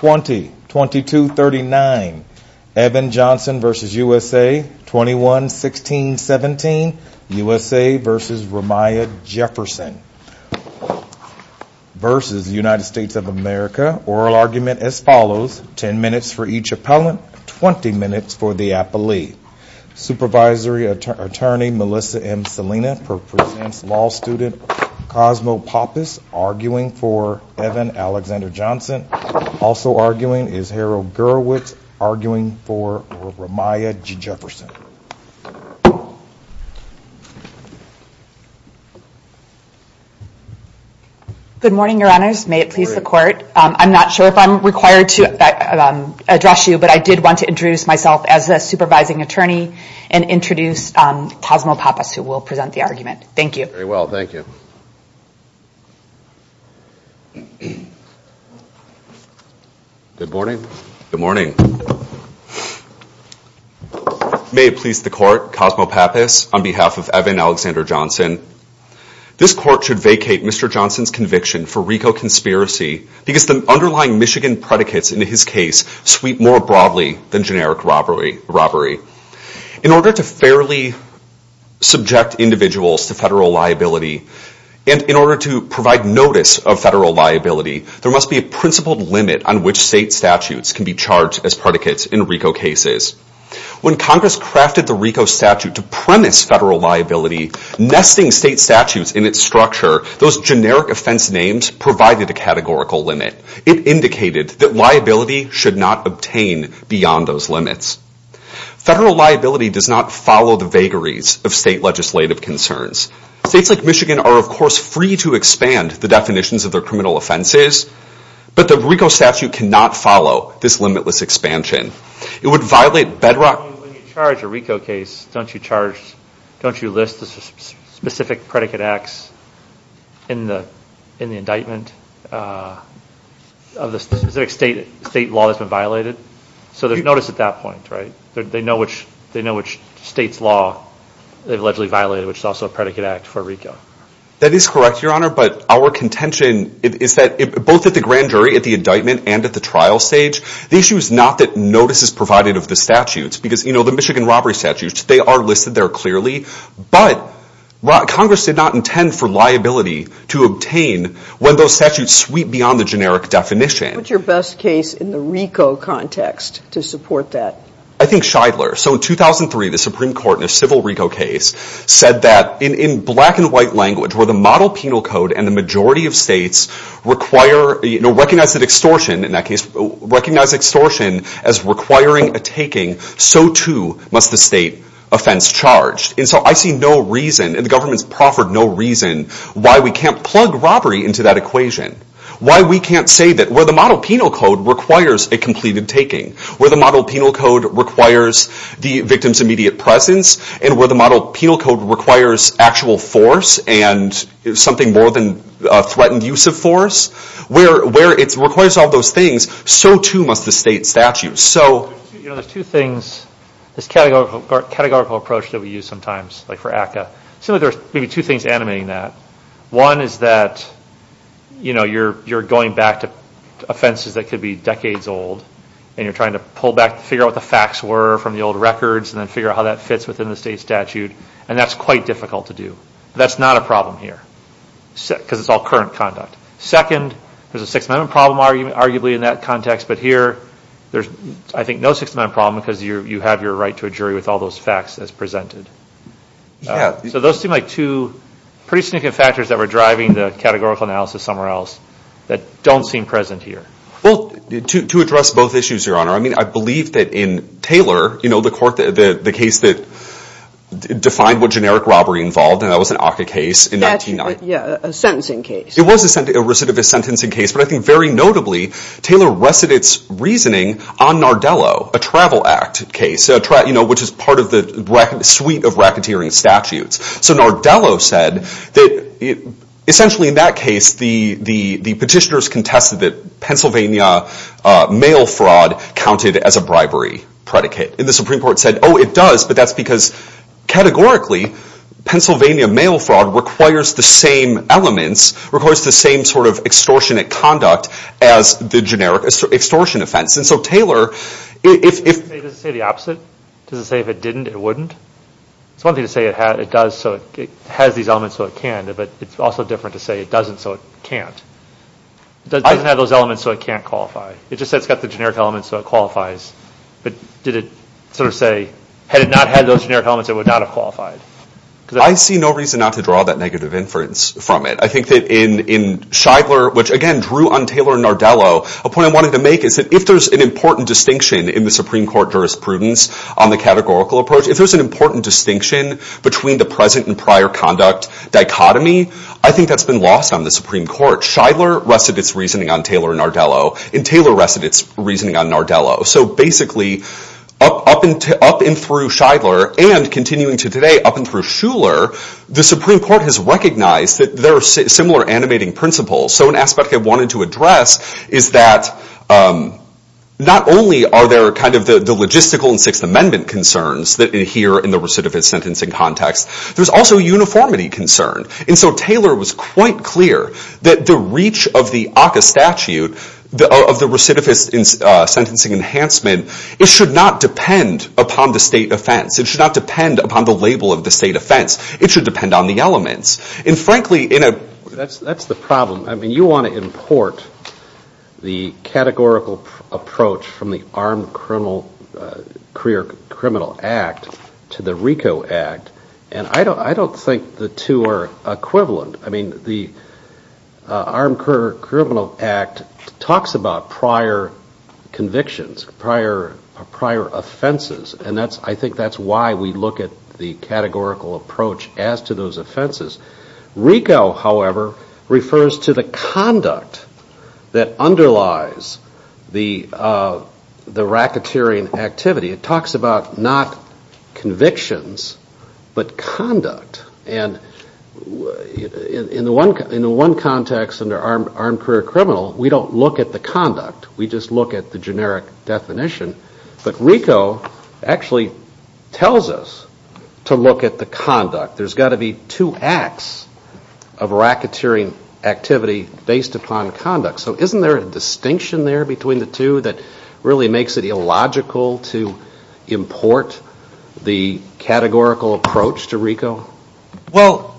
v. United States of America. Oral argument as follows. 10 minutes for each appellant, 20 minutes for the appellee. Supervisory attorney Melissa M. Salinas. Presents law student Cosmo Pappas arguing for Evan Alexander Johnson. Also arguing is Harold Gerowitz arguing for Ramiah Jefferson. Good morning, your honors. May it please the court. I'm not sure if I'm required to address you, but I did want to introduce myself as a supervising attorney and introduce Cosmo Pappas, who will present the argument. Thank you. Very well, thank you. Good morning. Good morning. May it please the court. Cosmo Pappas on behalf of Evan Alexander Johnson. This court should vacate Mr. Johnson's conviction for RICO conspiracy because the underlying Michigan predicates in his case sweep more broadly than generic robbery. In order to fairly subject individuals to federal liability and in order to provide notice of federal liability, there must be a principled limit on which state statutes can be charged as predicates in RICO cases. When Congress crafted the RICO statute to premise federal liability, nesting state statutes in its structure, those generic offense names provided a categorical limit. It indicated that liability should not obtain beyond those limits. Federal liability does not follow the vagaries of state legislative concerns. States like Michigan are, of course, free to expand the definitions of their criminal offenses, but the RICO statute cannot follow this limitless expansion. It would violate bedrock... That is correct, Your Honor, but our contention is that both at the grand jury, at the indictment, and at the trial stage, the issue is not that notice is provided of the statutes. Because, you know, the Michigan robbery statutes, they are listed there clearly, but Congress did not intend for liability to obtain when those statutes sweep beyond the generic definition. What is your best case in the RICO context to support that? I think Scheidler. So in 2003, the Supreme Court, in a civil RICO case, said that in black and white language, where the model penal code and the majority of states recognize extortion as requiring a taking, so too must the state offense charged. And so I see no reason, and the government's proffered no reason, why we can't plug robbery into that equation. Why we can't say that where the model penal code requires a completed taking, where the model penal code requires the victim's immediate presence, and where the model penal code requires actual force and something more than threatened use of force, where it requires all those things, so too must the state statute. You know, there's two things, this categorical approach that we use sometimes, like for ACCA. So there's maybe two things animating that. One is that, you know, you're going back to offenses that could be decades old, and you're trying to pull back, figure out what the facts were from the old records, and then figure out how that fits within the state statute. And that's quite difficult to do. That's not a problem here, because it's all current conduct. Second, there's a Sixth Amendment problem, arguably, in that context. But here, there's, I think, no Sixth Amendment problem, because you have your right to a jury with all those facts as presented. Yeah. So those seem like two pretty significant factors that were driving the categorical analysis somewhere else that don't seem present here. Well, to address both issues, Your Honor, I mean, I believe that in Taylor, you know, the court, the case that defined what generic robbery involved, and that was an ACCA case in 1990. Yeah, a sentencing case. It was a recidivist sentencing case, but I think very notably, Taylor rested its reasoning on Nardello, a travel act case, you know, which is part of the suite of racketeering statutes. So Nardello said that essentially in that case, the petitioners contested that Pennsylvania mail fraud counted as a bribery predicate. And the Supreme Court said, oh, it does, but that's because categorically, Pennsylvania mail fraud requires the same elements, requires the same sort of extortionate conduct as the generic extortion offense. And so, Taylor, if… Does it say the opposite? Does it say if it didn't, it wouldn't? It's one thing to say it has these elements so it can, but it's also different to say it doesn't so it can't. It doesn't have those elements so it can't qualify. It just says it's got the generic elements so it qualifies. But did it sort of say, had it not had those generic elements, it would not have qualified? I see no reason not to draw that negative inference from it. I think that in Shidler, which again, drew on Taylor and Nardello, a point I wanted to make is that if there's an important distinction in the Supreme Court jurisprudence on the categorical approach, if there's an important distinction between the present and prior conduct dichotomy, I think that's been lost on the Supreme Court. Shidler rested its reasoning on Taylor and Nardello, and Taylor rested its reasoning on Nardello. So basically, up and through Shidler, and continuing to today, up and through Shuler, the Supreme Court has recognized that there are similar animating principles. So an aspect I wanted to address is that not only are there the logistical and Sixth Amendment concerns here in the recidivist sentencing context, there's also uniformity concern. And so Taylor was quite clear that the reach of the ACCA statute, of the recidivist sentencing enhancement, it should not depend upon the state offense. It should not depend upon the label of the state offense. It should depend on the elements. That's the problem. I mean, you want to import the categorical approach from the Armed Criminal Act to the RICO Act, and I don't think the two are equivalent. I mean, the Armed Criminal Act talks about prior convictions, prior offenses. And I think that's why we look at the categorical approach as to those offenses. RICO, however, refers to the conduct that underlies the racketeering activity. It talks about not convictions, but conduct. And in the one context under armed career criminal, we don't look at the conduct. We just look at the generic definition. But RICO actually tells us to look at the conduct. There's got to be two acts of racketeering activity based upon conduct. So isn't there a distinction there between the two that really makes it illogical to import the categorical approach to RICO? Well,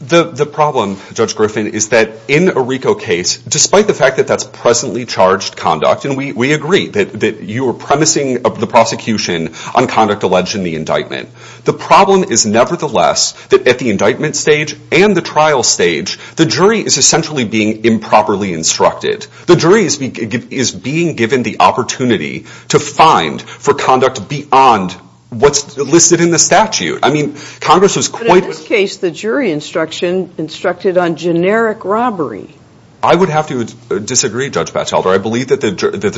the problem, Judge Griffin, is that in a RICO case, despite the fact that that's presently charged conduct, and we agree that you are promising the prosecution on conduct alleged in the indictment. The problem is, nevertheless, that at the indictment stage and the trial stage, the jury is essentially being improperly instructed. The jury is being given the opportunity to find for conduct beyond what's listed in the statute. I mean, Congress was quite— But in this case, the jury instruction instructed on generic robbery. I would have to disagree, Judge Batchelder. I believe that the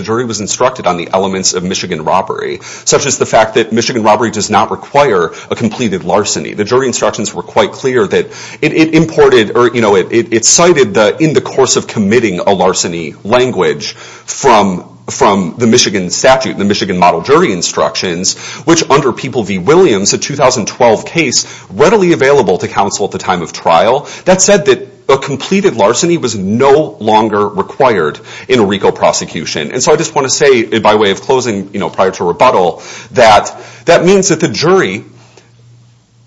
jury was instructed on the elements of Michigan robbery, such as the fact that Michigan robbery does not require a completed larceny. The jury instructions were quite clear that it imported or it cited in the course of committing a larceny language from the Michigan statute, the Michigan model jury instructions, which under People v. Williams, a 2012 case readily available to counsel at the time of trial, that said that a completed larceny was no longer required in a RICO prosecution. And so I just want to say, by way of closing, prior to rebuttal, that that means that the jury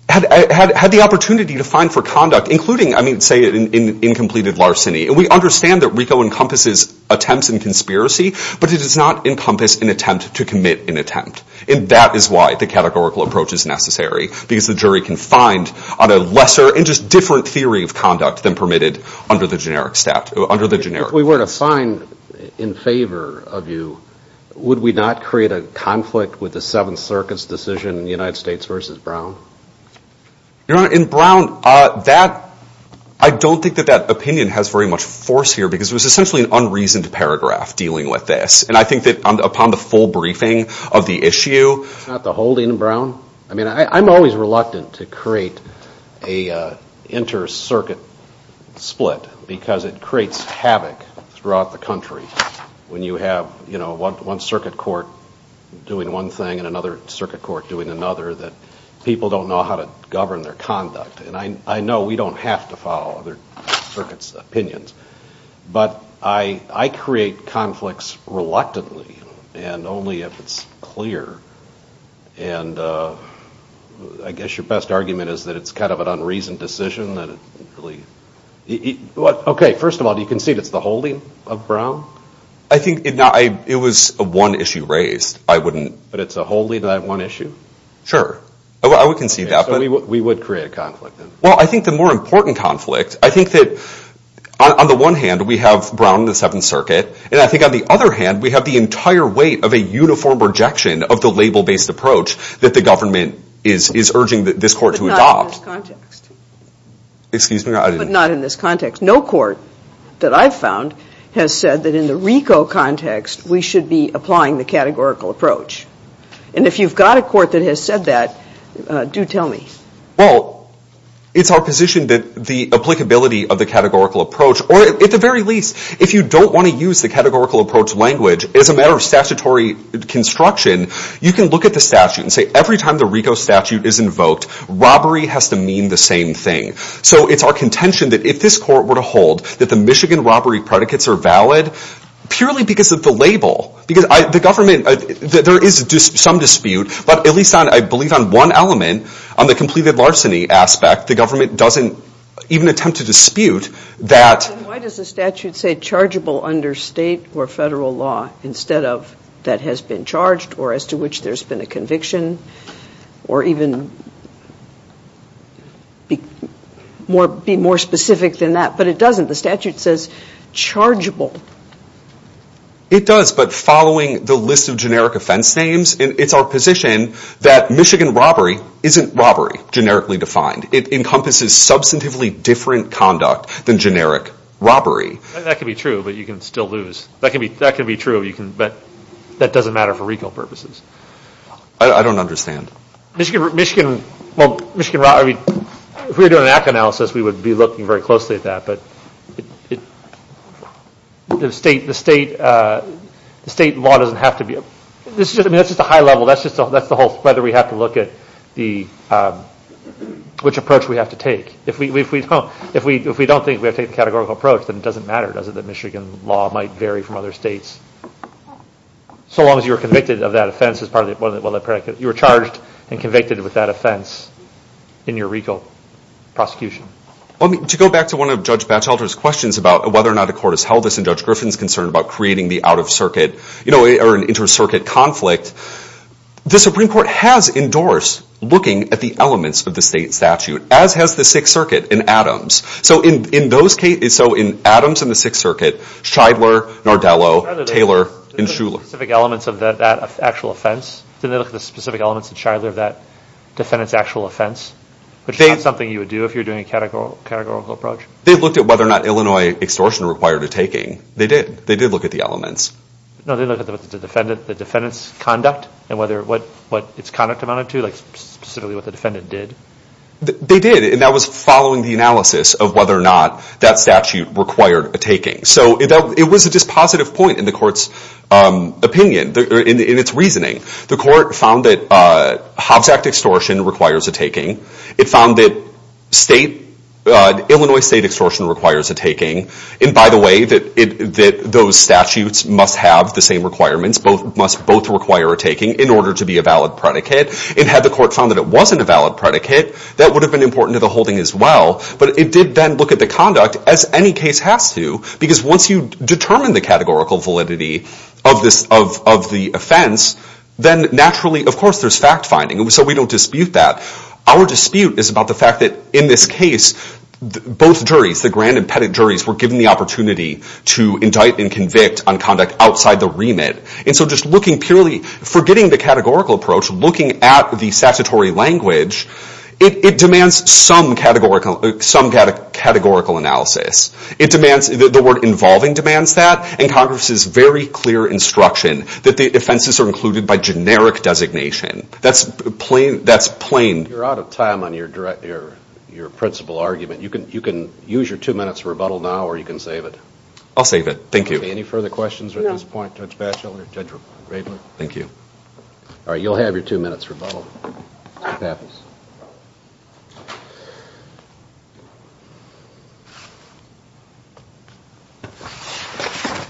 had the opportunity to find for conduct, including, I mean, say, an incompleted larceny. And we understand that RICO encompasses attempts and conspiracy, but it does not encompass an attempt to commit an attempt. And that is why the categorical approach is necessary, because the jury can find on a lesser and just different theory of conduct than permitted under the generic statute, under the generic statute. If we were to find in favor of you, would we not create a conflict with the Seventh Circuit's decision in the United States v. Brown? Your Honor, in Brown, that, I don't think that that opinion has very much force here, because it was essentially an unreasoned paragraph dealing with this. And I think that upon the full briefing of the issue. Not the holding in Brown? I mean, I'm always reluctant to create an inter-circuit split, because it creates havoc throughout the country. When you have, you know, one circuit court doing one thing and another circuit court doing another, that people don't know how to govern their conduct. And I know we don't have to follow other circuits' opinions, but I create conflicts reluctantly, and only if it's clear. And I guess your best argument is that it's kind of an unreasoned decision. Okay, first of all, do you concede it's the holding of Brown? I think it was one issue raised. I wouldn't. But it's a holding. Did I have one issue? Sure. I would concede that. We would create a conflict. Well, I think the more important conflict, I think that on the one hand, we have Brown in the Seventh Circuit. And I think on the other hand, we have the entire weight of a uniform rejection of the label-based approach that the government is urging this court to adopt. But not in this context. Excuse me? But not in this context. No court that I've found has said that in the RICO context, we should be applying the categorical approach. And if you've got a court that has said that, do tell me. Well, it's our position that the applicability of the categorical approach, or at the very least, if you don't want to use the categorical approach language as a matter of statutory construction, you can look at the statute and say every time the RICO statute is invoked, robbery has to mean the same thing. So it's our contention that if this court were to hold that the Michigan robbery predicates are valid, purely because of the label, because the government, there is some dispute, but at least I believe on one element, on the completed larceny aspect, the government doesn't even attempt to dispute that. Why does the statute say chargeable under state or federal law instead of that has been charged, or as to which there's been a conviction, or even be more specific than that? But it doesn't. The statute says chargeable. It does, but following the list of generic offense names, it's our position that Michigan robbery isn't robbery generically defined. It encompasses substantively different conduct than generic robbery. That can be true, but you can still lose. That can be true, but that doesn't matter for RICO purposes. I don't understand. Michigan robbery, if we were doing an act analysis, we would be looking very closely at that, but the state law doesn't have to be. I mean, that's just a high level. That's the whole, whether we have to look at which approach we have to take. If we don't think we have to take a categorical approach, then it doesn't matter, does it, that Michigan law might vary from other states. So long as you are convicted of that offense. You are charged and convicted with that offense in your RICO prosecution. To go back to one of Judge Batchelder's questions about whether or not the court has held this, and Judge Griffin's concern about creating the out-of-circuit or inter-circuit conflict, the Supreme Court has endorsed looking at the elements of the state statute, as has the Sixth Circuit in Adams. So in Adams and the Sixth Circuit, Shidler, Nardello, Taylor, and Shuler. Didn't they look at the specific elements of that actual offense? Didn't they look at the specific elements in Shidler of that defendant's actual offense? Which is not something you would do if you were doing a categorical approach. They looked at whether or not Illinois extortion required a taking. They did. They did look at the elements. No, they looked at the defendant's conduct and what its conduct amounted to, like specifically what the defendant did. They did, and that was following the analysis of whether or not that statute required a taking. So it was a dispositive point in the court's opinion, in its reasoning. The court found that Hobbs Act extortion requires a taking. It found that Illinois state extortion requires a taking. And by the way, that those statutes must have the same requirements. Both must require a taking in order to be a valid predicate. And had the court found that it wasn't a valid predicate, that would have been important to the holding as well. But it did then look at the conduct, as any case has to, because once you determine the categorical validity of the offense, then naturally, of course, there's fact-finding. So we don't dispute that. Our dispute is about the fact that in this case, both juries, the grand and pettit juries, were given the opportunity to indict and convict on conduct outside the remit. And so just looking purely, forgetting the categorical approach, looking at the statutory language, it demands some categorical analysis. The word involving demands that, and Congress's very clear instruction that the offenses are included by generic designation. That's plain. You're out of time on your principal argument. You can use your two minutes to rebuttal now, or you can save it. I'll save it. Thank you. Any further questions at this point, Judge Batchel or Judge Raidler? Thank you. All right, you'll have your two minutes rebuttal. Mr. Pappas.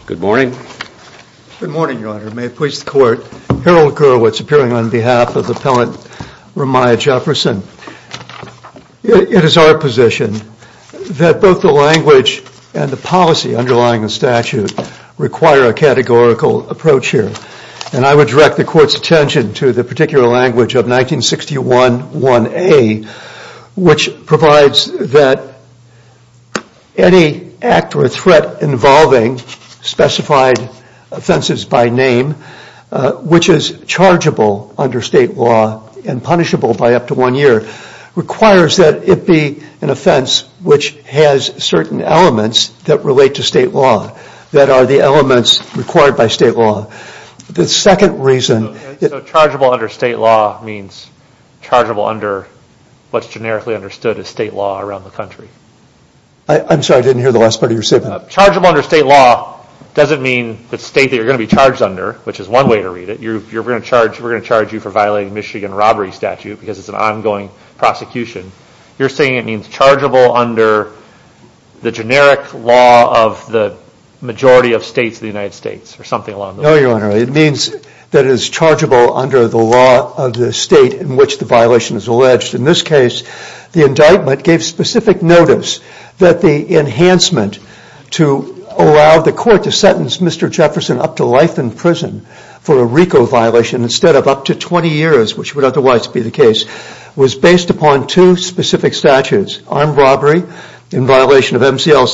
Good morning. Good morning, Your Honor. May it please the Court. Harold Gurwitz, appearing on behalf of Appellant Ramiah Jefferson. It is our position that both the language and the policy underlying the statute require a categorical approach here. And I would direct the Court's attention to the particular language of 1961-1A, which provides that any act or threat involving specified offenses by name, which is chargeable under state law and punishable by up to one year, requires that it be an offense which has certain elements that relate to state law, that are the elements required by state law. The second reason... So chargeable under state law means chargeable under what's generically understood as state law around the country. I'm sorry, I didn't hear the last part of your statement. Chargeable under state law doesn't mean the state that you're going to be charged under, which is one way to read it. We're going to charge you for violating Michigan robbery statute because it's an ongoing prosecution. You're saying it means chargeable under the generic law of the majority of states of the United States or something along those lines. No, Your Honor, it means that it is chargeable under the law of the state in which the violation is alleged. In this case, the indictment gave specific notice that the enhancement to allow the Court to sentence Mr. Jefferson up to life in prison for a RICO violation was based upon two specific statutes, armed robbery in violation of MCL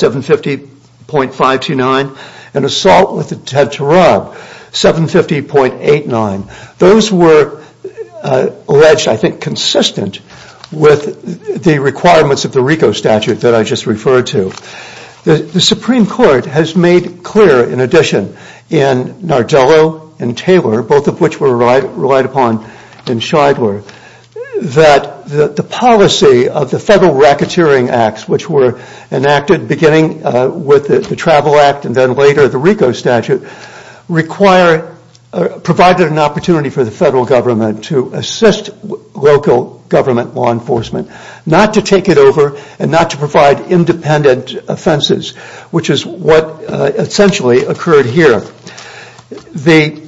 750.529 and assault with a head to rub, 750.89. Those were alleged, I think, consistent with the requirements of the RICO statute that I just referred to. The Supreme Court has made clear, in addition, in Nardello and Taylor, both of which were relied upon in Shidler, that the policy of the Federal Racketeering Acts, which were enacted beginning with the Travel Act and then later the RICO statute, provided an opportunity for the federal government to assist local government law enforcement not to take it over and not to provide independent offenses, which is what essentially occurred here. The...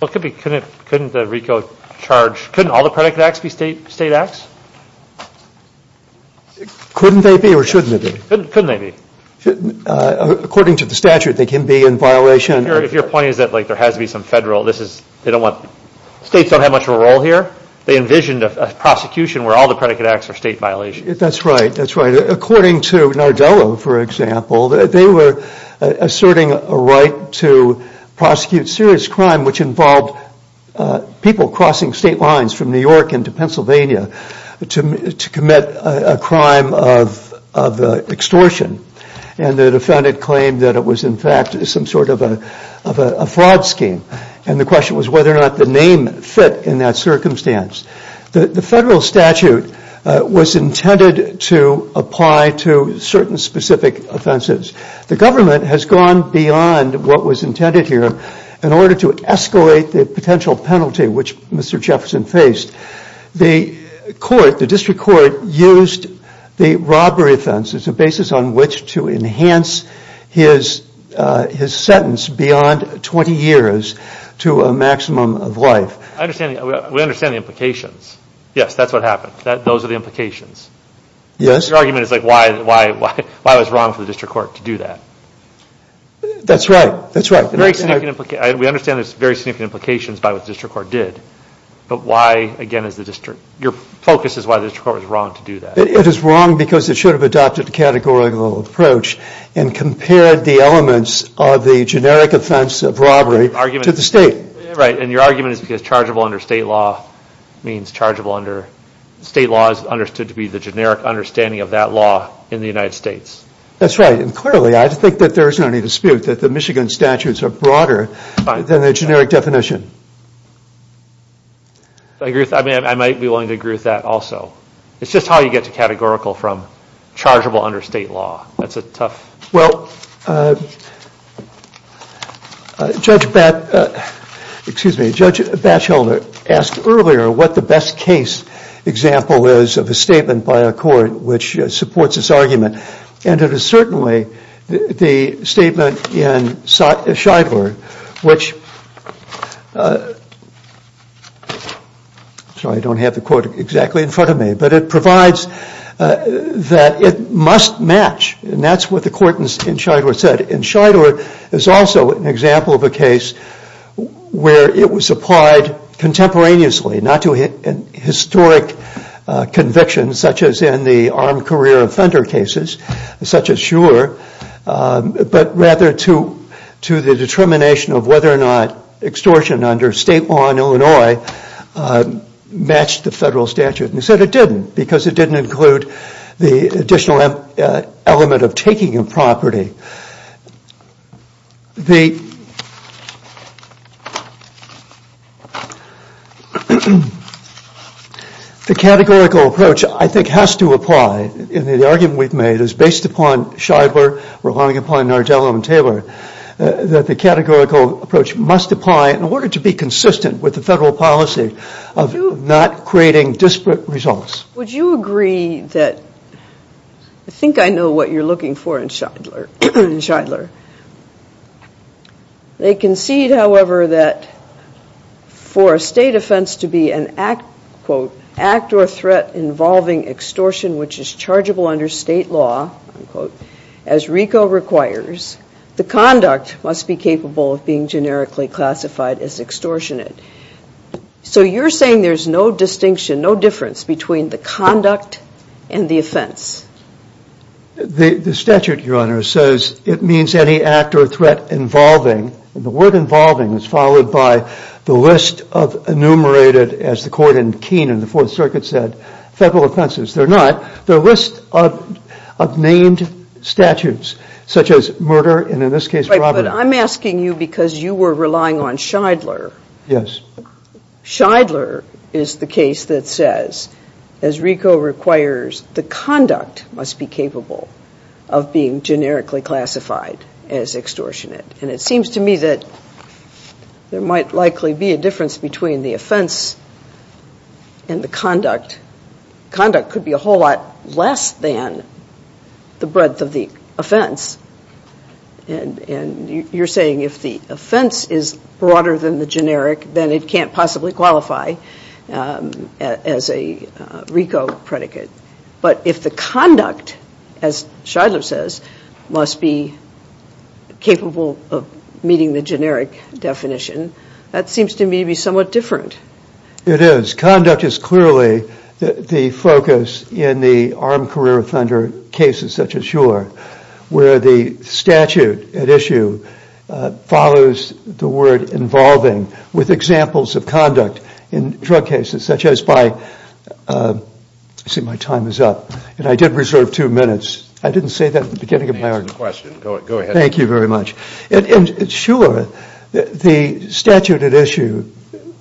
Well, it could be, couldn't the RICO charge, couldn't all the predicate acts be state acts? Couldn't they be or shouldn't they be? Couldn't they be. According to the statute, they can be in violation. If your point is that, like, there has to be some federal, this is, they don't want, states don't have much of a role here, they envisioned a prosecution where all the predicate acts are state violations. That's right, that's right. According to Nardello, for example, they were asserting a right to prosecute serious crime which involved people crossing state lines from New York into Pennsylvania to commit a crime of extortion. And the defendant claimed that it was, in fact, some sort of a fraud scheme. And the question was whether or not the name fit in that circumstance. The federal statute was intended to apply to certain specific offenses. The government has gone beyond what was intended here in order to escalate the potential penalty which Mr. Jefferson faced. The court, the district court, used the robbery offense as a basis on which to enhance his sentence beyond 20 years to a maximum of life. I understand, we understand the implications. Yes, that's what happened. Those are the implications. Yes. Your argument is, like, why was it wrong for the district court to do that? That's right, that's right. We understand there's very significant implications by what the district court did. But why, again, is the district, your focus is why the district court was wrong to do that. It is wrong because it should have adopted a categorical approach and compared the elements of the generic offense of robbery to the state. Right. And your argument is because chargeable under state law means chargeable under state law is understood to be the generic understanding of that law in the United States. That's right. And clearly, I think that there is no dispute that the Michigan statutes are broader than the generic definition. I might be willing to agree with that also. It's just how you get to categorical from chargeable under state law. That's a tough. Well, Judge Batchelder asked earlier what the best case example is of a statement by a court which supports this argument, and it is certainly the statement in Scheidler, which, sorry, I don't have the quote exactly in front of me, but it provides that it must match, and that's what the court in Scheidler said. And Scheidler is also an example of a case where it was applied contemporaneously, not to a historic conviction such as in the armed career offender cases, such as Shurer, but rather to the determination of whether or not extortion under state law in Illinois matched the federal statute. And he said it didn't because it didn't include the additional element of taking a property. The categorical approach, I think, has to apply. The argument we've made is based upon Scheidler, relying upon Nardello and Taylor, that the categorical approach must apply in order to be consistent with the federal policy of not creating disparate results. Would you agree that, I think I know what you're looking for in Scheidler. They concede, however, that for a state offense to be an act, quote, act or threat involving extortion which is chargeable under state law, unquote, as RICO requires, the conduct must be capable of being generically classified as extortionate. So you're saying there's no distinction, no difference between the conduct and the offense. The statute, Your Honor, says it means any act or threat involving, and the word involving is followed by the list of enumerated, as the court in Keenan, the Fourth Circuit said, federal offenses. They're not. They're a list of named statutes such as murder and, in this case, robbery. But I'm asking you because you were relying on Scheidler. Yes. Scheidler is the case that says, as RICO requires, the conduct must be capable of being generically classified as extortionate. And it seems to me that there might likely be a difference between the offense and the conduct. Conduct could be a whole lot less than the breadth of the offense. And you're saying if the offense is broader than the generic, then it can't possibly qualify as a RICO predicate. But if the conduct, as Scheidler says, must be capable of meeting the generic definition, that seems to me to be somewhat different. It is. Conduct is clearly the focus in the armed career offender cases such as your, where the statute at issue follows the word involving with examples of conduct in drug cases, such as by, let's see, my time is up, and I did reserve two minutes. I didn't say that at the beginning of my argument. Go ahead. Thank you very much. Sure. The statute at issue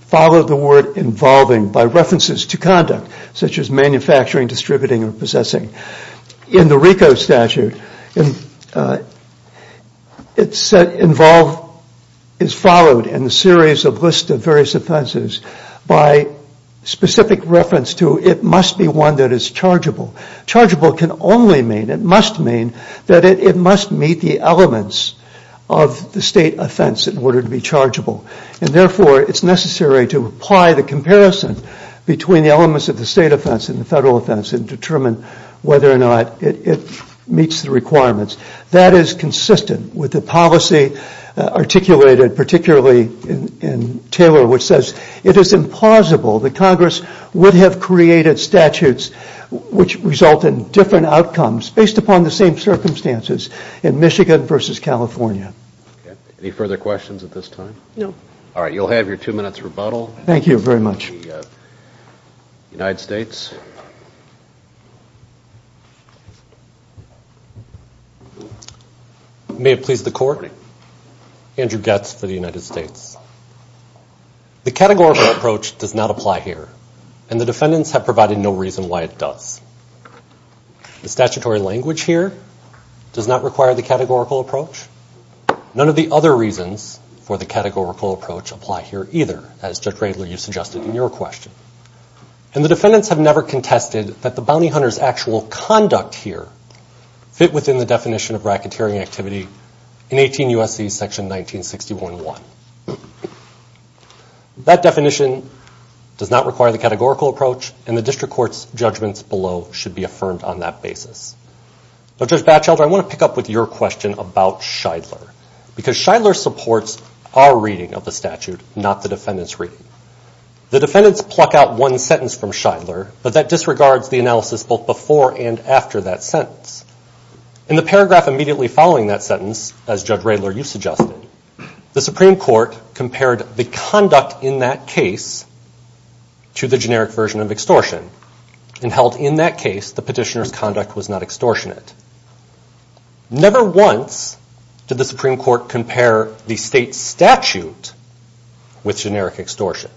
followed the word involving by references to conduct, such as manufacturing, distributing, or possessing. In the RICO statute, involved is followed in the series of lists of various offenses by specific reference to it must be one that is chargeable. Chargeable can only mean, it must mean that it must meet the elements of the state offense in order to be chargeable. And therefore, it's necessary to apply the comparison between the elements of the state offense and the federal offense and determine whether or not it meets the requirements. That is consistent with the policy articulated, particularly in Taylor, which says it is implausible that Congress would have created statutes which result in different outcomes based upon the same circumstances in Michigan versus California. Okay. Any further questions at this time? No. All right. You'll have your two minutes rebuttal. Thank you very much. The United States. May it please the Court? Good morning. Andrew Goetz for the United States. The categorical approach does not apply here, and the defendants have provided no reason why it does. The statutory language here does not require the categorical approach. None of the other reasons for the categorical approach apply here either, as Judge Radler, you suggested in your question. And the defendants have never contested that the bounty hunter's actual conduct here fit within the definition of racketeering activity in 18 U.S.C. section 1961.1. That definition does not require the categorical approach, and the district court's judgments below should be affirmed on that basis. Now, Judge Batchelder, I want to pick up with your question about Shidler, because Shidler supports our reading of the statute, not the defendant's reading. The defendants pluck out one sentence from Shidler, but that disregards the analysis both before and after that sentence. In the paragraph immediately following that sentence, as Judge Radler, you suggested, the Supreme Court compared the conduct in that case to the generic version of extortion, and held in that case the petitioner's conduct was not extortionate. Never once did the Supreme Court compare the state statute with generic extortion.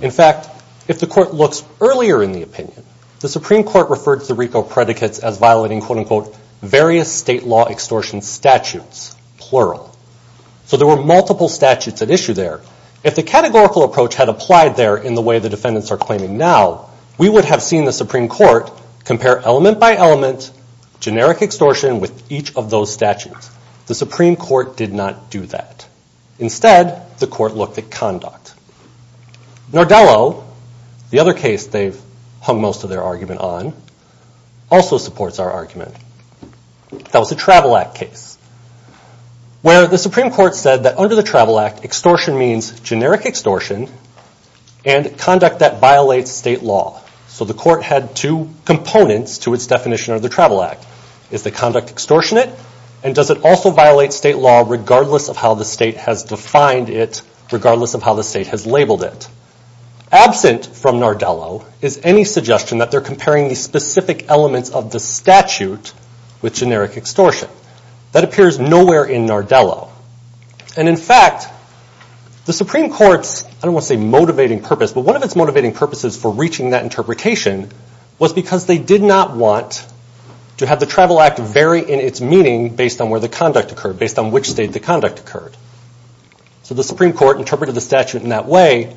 In fact, if the court looks earlier in the opinion, the Supreme Court referred to the RICO predicates as violating various state law extortion statutes, plural. So there were multiple statutes at issue there. If the categorical approach had applied there in the way the defendants are claiming now, we would have seen the Supreme Court compare element by element, generic extortion with each of those statutes. The Supreme Court did not do that. Instead, the court looked at conduct. Nordello, the other case they've hung most of their argument on, also supports our argument. That was the Travel Act case, where the Supreme Court said that under the Travel Act, extortion means generic extortion, and conduct that violates state law. So the court had two components to its definition of the Travel Act. Is the conduct extortionate? And does it also violate state law regardless of how the state has defined it, regardless of how the state has labeled it? Absent from Nordello is any suggestion that they're comparing the specific elements of the statute with generic extortion. That appears nowhere in Nordello. And in fact, the Supreme Court's, I don't want to say motivating purpose, but one of its motivating purposes for reaching that interpretation was because they did not want to have the Travel Act vary in its meaning based on where the conduct occurred, based on which state the conduct occurred. So the Supreme Court interpreted the statute in that way.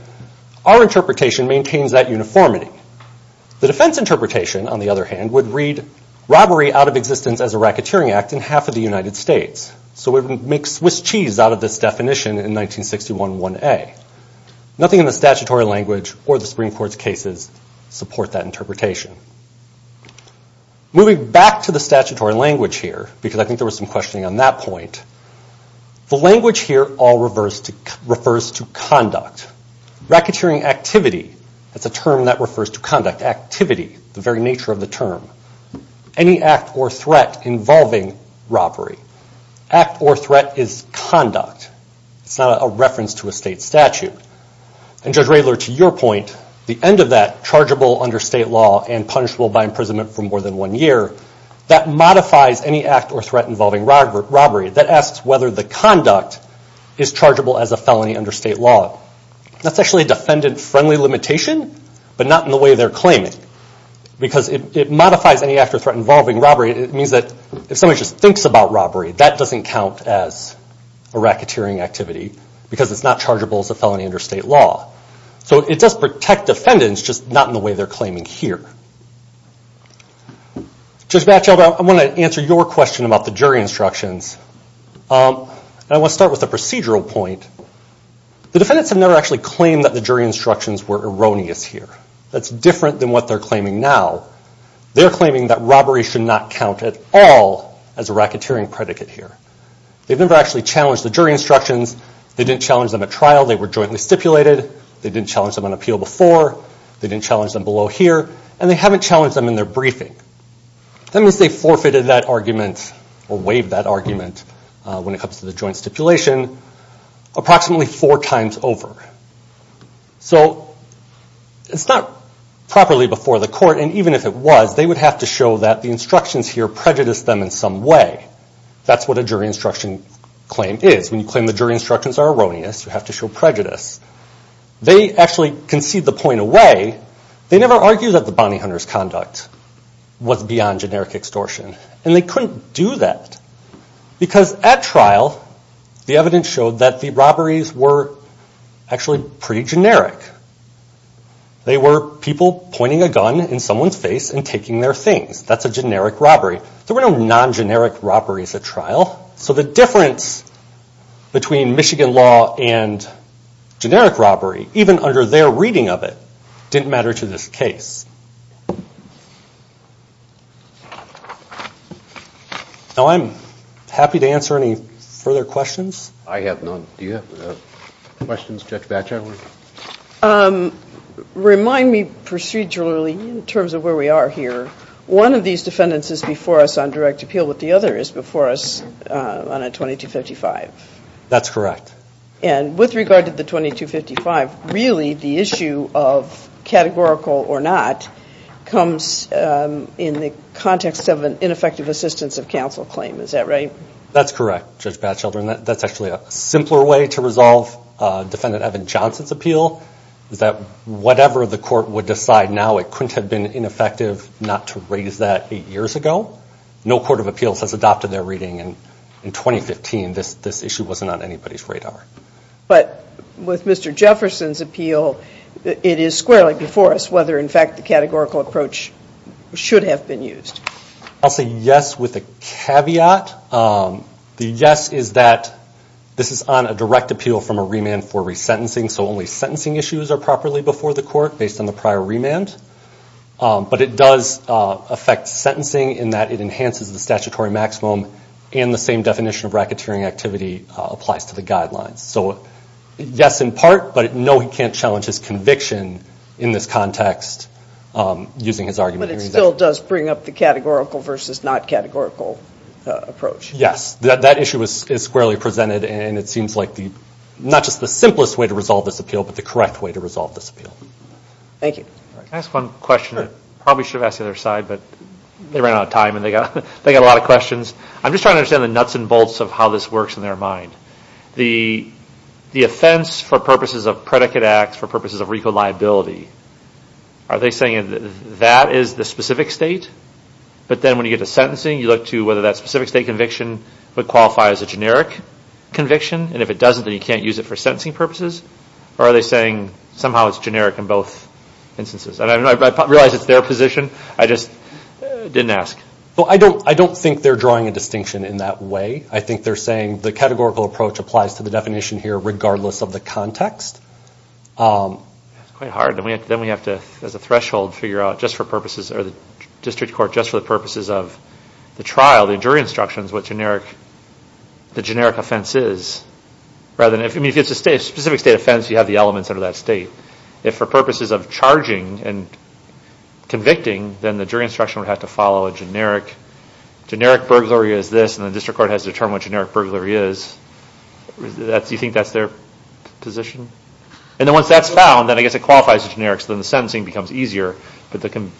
Our interpretation maintains that uniformity. The defense interpretation, on the other hand, would read robbery out of existence as a racketeering act in half of the United States. So we would make Swiss cheese out of this definition in 1961-1A. Nothing in the statutory language or the Supreme Court's cases support that interpretation. Moving back to the statutory language here, because I think there was some questioning on that point, the language here all refers to conduct. Racketeering activity, that's a term that refers to conduct. Activity, the very nature of the term. Any act or threat involving robbery. Act or threat is conduct. It's not a reference to a state statute. And Judge Raylor, to your point, the end of that, chargeable under state law and punishable by imprisonment for more than one year, that modifies any act or threat involving robbery. That asks whether the conduct is chargeable as a felony under state law. That's actually a defendant-friendly limitation, but not in the way they're claiming. Because it modifies any act or threat involving robbery. It means that if somebody just thinks about robbery, that doesn't count as a racketeering activity because it's not chargeable as a felony under state law. So it does protect defendants, just not in the way they're claiming here. Judge Batchelder, I want to answer your question about the jury instructions. And I want to start with a procedural point. The defendants have never actually claimed that the jury instructions were erroneous here. That's different than what they're claiming now. They're claiming that robbery should not count at all as a racketeering predicate here. They've never actually challenged the jury instructions. They didn't challenge them at trial. They were jointly stipulated. They didn't challenge them on appeal before. They didn't challenge them below here. And they haven't challenged them in their briefing. That means they forfeited that argument or waived that argument when it comes to the joint stipulation approximately four times over. So it's not properly before the court, and even if it was, they would have to show that the instructions here prejudice them in some way. That's what a jury instruction claim is. When you claim the jury instructions are erroneous, you have to show prejudice. They actually concede the point away. They never argue that the bounty hunter's conduct was beyond generic extortion. And they couldn't do that because at trial, the evidence showed that the robberies were actually pretty generic. They were people pointing a gun in someone's face and taking their things. That's a generic robbery. There were no non-generic robberies at trial. So the difference between Michigan law and generic robbery, even under their reading of it, didn't matter to this case. Now I'm happy to answer any further questions. I have none. Do you have questions, Judge Batchelor? Remind me procedurally in terms of where we are here. One of these defendants is before us on direct appeal, but the other is before us on a 2255. That's correct. And with regard to the 2255, really the issue of categorical or not comes in the context of an ineffective assistance of counsel claim. Is that right? That's correct, Judge Batchelor. And that's actually a simpler way to resolve Defendant Evan Johnson's appeal, is that whatever the court would decide now, it couldn't have been ineffective not to raise that eight years ago. No court of appeals has adopted their reading. In 2015, this issue wasn't on anybody's radar. But with Mr. Jefferson's appeal, it is squarely before us whether, in fact, the categorical approach should have been used. I'll say yes with a caveat. The yes is that this is on a direct appeal from a remand for resentencing, so only sentencing issues are properly before the court based on the prior remand. But it does affect sentencing in that it enhances the statutory maximum and the same definition of racketeering activity applies to the guidelines. So yes in part, but no, he can't challenge his conviction in this context using his argument. But it still does bring up the categorical versus not categorical approach. Yes, that issue is squarely presented, and it seems like not just the simplest way to resolve this appeal, but the correct way to resolve this appeal. Thank you. Can I ask one question? Sure. I probably should have asked the other side, but they ran out of time, and they got a lot of questions. I'm just trying to understand the nuts and bolts of how this works in their mind. The offense for purposes of predicate acts, for purposes of RICO liability, are they saying that is the specific state, but then when you get to sentencing, you look to whether that specific state conviction would qualify as a generic conviction, and if it doesn't, then you can't use it for sentencing purposes? Or are they saying somehow it's generic in both instances? I realize it's their position. I just didn't ask. I don't think they're drawing a distinction in that way. I think they're saying the categorical approach applies to the definition here regardless of the context. That's quite hard. Then we have to, as a threshold, figure out just for purposes, or the district court just for the purposes of the trial, the jury instructions, what the generic offense is. If it's a specific state offense, you have the elements under that state. If for purposes of charging and convicting, then the jury instruction would have to follow a generic. Generic burglary is this, and the district court has to determine what generic burglary is. Do you think that's their position? Once that's found, then I guess it qualifies as generic, so then the sentencing becomes easier. I don't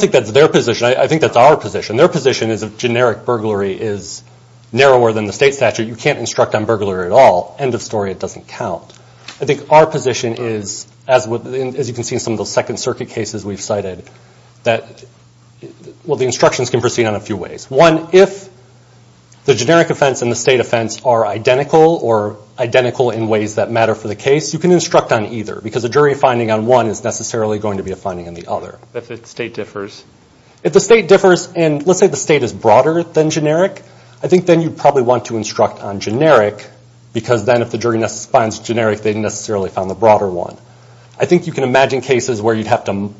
think that's their position. I think that's our position. Their position is if generic burglary is narrower than the state statute, you can't instruct on burglary at all. End of story. It doesn't count. I think our position is, as you can see in some of those Second Circuit cases we've cited, that the instructions can proceed on a few ways. One, if the generic offense and the state offense are identical or identical in ways that matter for the case, you can instruct on either, because a jury finding on one is necessarily going to be a finding on the other. If the state differs? Let's say the state is broader than generic. I think then you'd probably want to instruct on generic, because then if the jury finds generic, they didn't necessarily find the broader one. I think you can imagine cases where you'd have to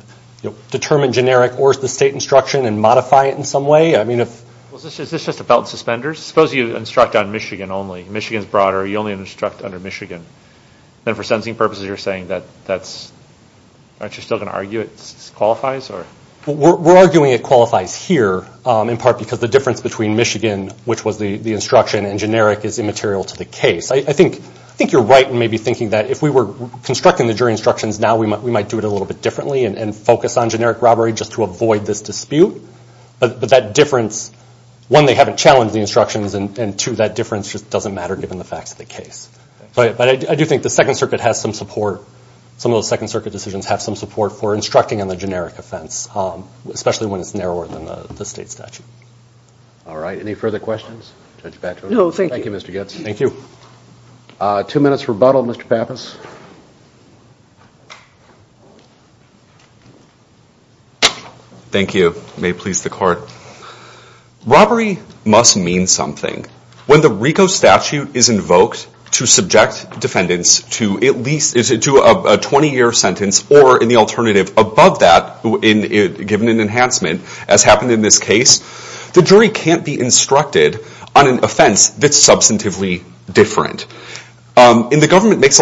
determine generic or the state instruction and modify it in some way. Is this just about suspenders? Suppose you instruct on Michigan only. Michigan is broader. You only instruct under Michigan. Then for sentencing purposes, you're saying that that's, aren't you still going to argue it qualifies? We're arguing it qualifies here, in part because the difference between Michigan, which was the instruction, and generic is immaterial to the case. I think you're right in maybe thinking that if we were constructing the jury instructions now, we might do it a little bit differently and focus on generic robbery just to avoid this dispute. But that difference, one, they haven't challenged the instructions, and two, that difference just doesn't matter given the facts of the case. But I do think the Second Circuit has some support. Some of those Second Circuit decisions have some support for instructing on the generic offense, especially when it's narrower than the state statute. All right. Any further questions? No, thank you. Thank you, Mr. Goetz. Thank you. Two minutes rebuttal, Mr. Pappas. Thank you. May it please the Court. Robbery must mean something. When the RICO statute is invoked to subject defendants to a 20-year sentence or, in the alternative, above that, given an enhancement, as happened in this case, the jury can't be instructed on an offense that's substantively different. And the government makes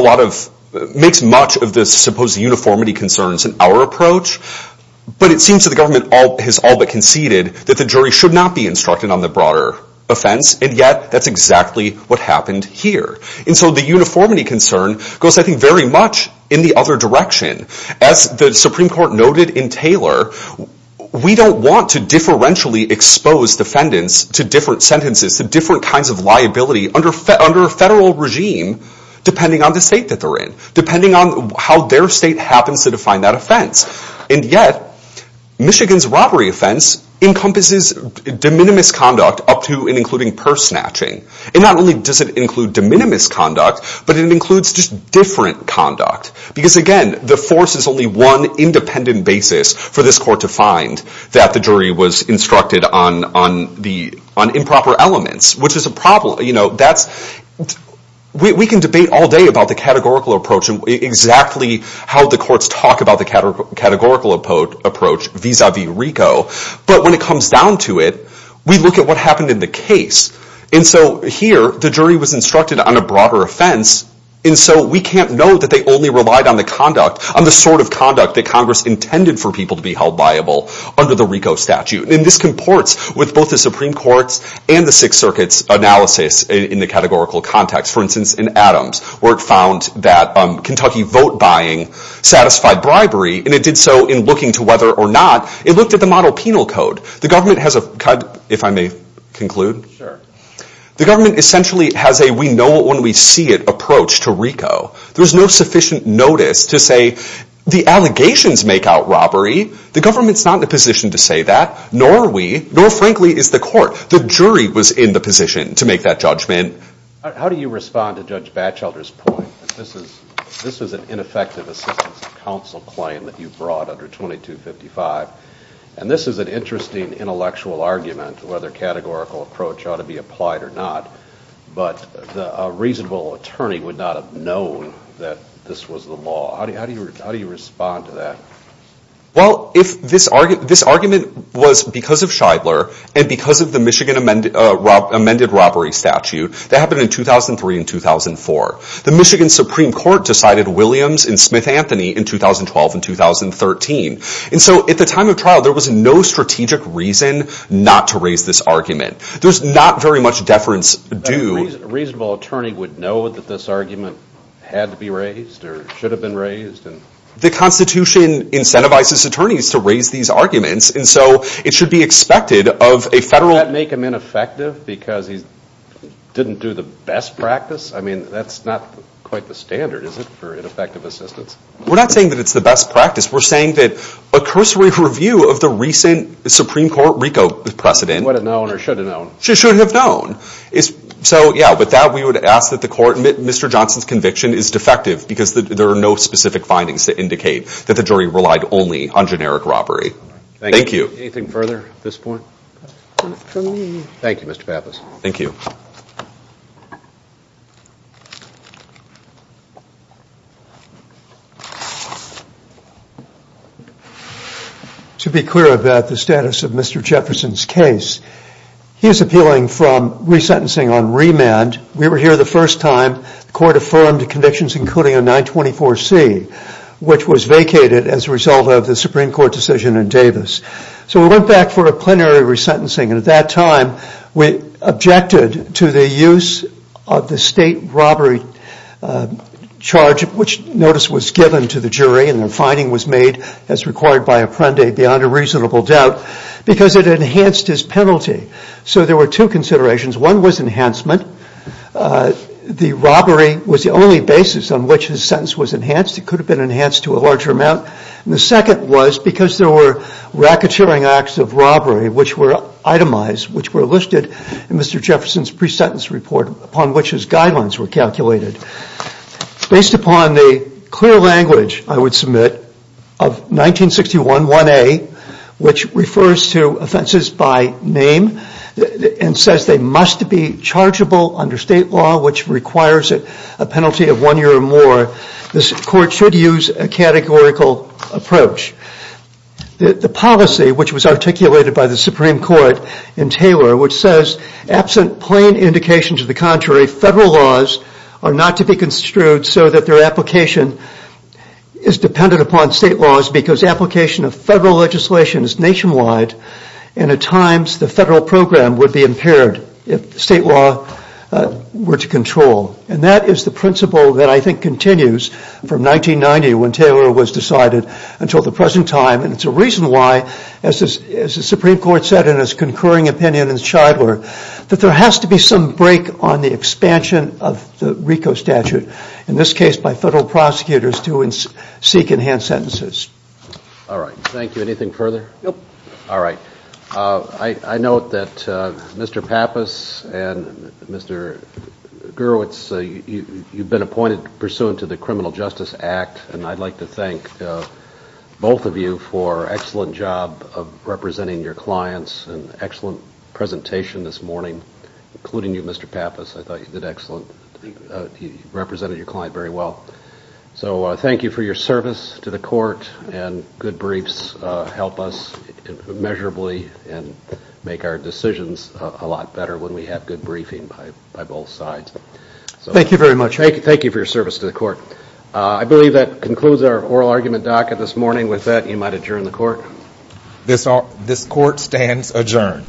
much of the supposed uniformity concerns in our approach, but it seems that the government has all but conceded that the jury should not be instructed on the broader offense, and yet that's exactly what happened here. And so the uniformity concern goes, I think, very much in the other direction. As the Supreme Court noted in Taylor, we don't want to differentially expose defendants to different sentences, to different kinds of liability under a federal regime, depending on the state that they're in, depending on how their state happens to define that offense. And yet, Michigan's robbery offense encompasses de minimis conduct up to and including purse snatching. And not only does it include de minimis conduct, but it includes just different conduct. Because, again, the force is only one independent basis for this Court to find that the jury was instructed on improper elements, which is a problem. We can debate all day about the categorical approach and exactly how the courts talk about the categorical approach vis-a-vis RICO, but when it comes down to it, we look at what happened in the case. And so here, the jury was instructed on a broader offense, and so we can't know that they only relied on the conduct, on the sort of conduct that Congress intended for people to be held liable under the RICO statute. And this comports with both the Supreme Court's and the Sixth Circuit's analysis in the categorical context. For instance, in Adams, where it found that Kentucky vote-buying satisfied bribery, and it did so in looking to whether or not it looked at the model penal code. The government has a, if I may conclude, the government essentially has a we-know-it-when-we-see-it approach to RICO. There's no sufficient notice to say the allegations make out robbery. The government's not in a position to say that, nor are we, nor, frankly, is the Court. The jury was in the position to make that judgment. How do you respond to Judge Batchelder's point that this is an ineffective assistance to counsel claim that you brought under 2255? And this is an interesting intellectual argument whether categorical approach ought to be applied or not, but a reasonable attorney would not have known that this was the law. How do you respond to that? Well, if this argument was because of Scheidler and because of the Michigan amended robbery statute, that happened in 2003 and 2004. The Michigan Supreme Court decided Williams and Smith-Anthony in 2012 and 2013. And so at the time of trial, there was no strategic reason not to raise this argument. There's not very much deference due. A reasonable attorney would know that this argument had to be raised or should have been raised? The Constitution incentivizes attorneys to raise these arguments, and so it should be expected of a federal... Does that make him ineffective because he didn't do the best practice? I mean, that's not quite the standard, is it, for ineffective assistance? We're not saying that it's the best practice. We're saying that a cursory review of the recent Supreme Court RICO precedent... Would have known or should have known. Should have known. So, yeah, with that, we would ask that the Court admit Mr. Johnson's conviction is defective because there are no specific findings to indicate that the jury relied only on generic robbery. Thank you. Anything further at this point? Not from me. Thank you, Mr. Pappas. Thank you. To be clear about the status of Mr. Jefferson's case, he's appealing from resentencing on remand. We were here the first time the Court affirmed convictions including a 924C, which was vacated as a result of the Supreme Court decision in Davis. So we went back for a plenary resentencing, and at that time we objected to the use of the state robbery charge, which notice was given to the jury, and the finding was made as required by Apprendi, beyond a reasonable doubt, because it enhanced his penalty. So there were two considerations. One was enhancement. The robbery was the only basis on which his sentence was enhanced. It could have been enhanced to a larger amount. The second was because there were racketeering acts of robbery which were itemized, which were listed in Mr. Jefferson's pre-sentence report upon which his guidelines were calculated. Based upon the clear language, I would submit, of 1961 1A, which refers to offenses by name and says they must be chargeable under state law, which requires a penalty of one year or more. This Court should use a categorical approach. The policy, which was articulated by the Supreme Court in Taylor, which says, absent plain indication to the contrary, federal laws are not to be construed so that their application is dependent upon state laws because application of federal legislation is nationwide, and at times the federal program would be impaired if state law were to control. And that is the principle that I think continues from 1990 when Taylor was decided until the present time, and it's a reason why, as the Supreme Court said in its concurring opinion in Shidler, that there has to be some break on the expansion of the RICO statute, in this case by federal prosecutors to seek enhanced sentences. All right. Thank you. Anything further? Nope. All right. I note that Mr. Pappas and Mr. Gurwitz, you've been appointed pursuant to the Criminal Justice Act, and I'd like to thank both of you for an excellent job of representing your clients and an excellent presentation this morning, including you, Mr. Pappas. I thought you did excellent. You represented your client very well. So thank you for your service to the court, and good briefs help us measurably and make our decisions a lot better when we have good briefing by both sides. Thank you very much. Thank you for your service to the court. I believe that concludes our oral argument docket this morning. With that, you might adjourn the court. This court stands adjourned.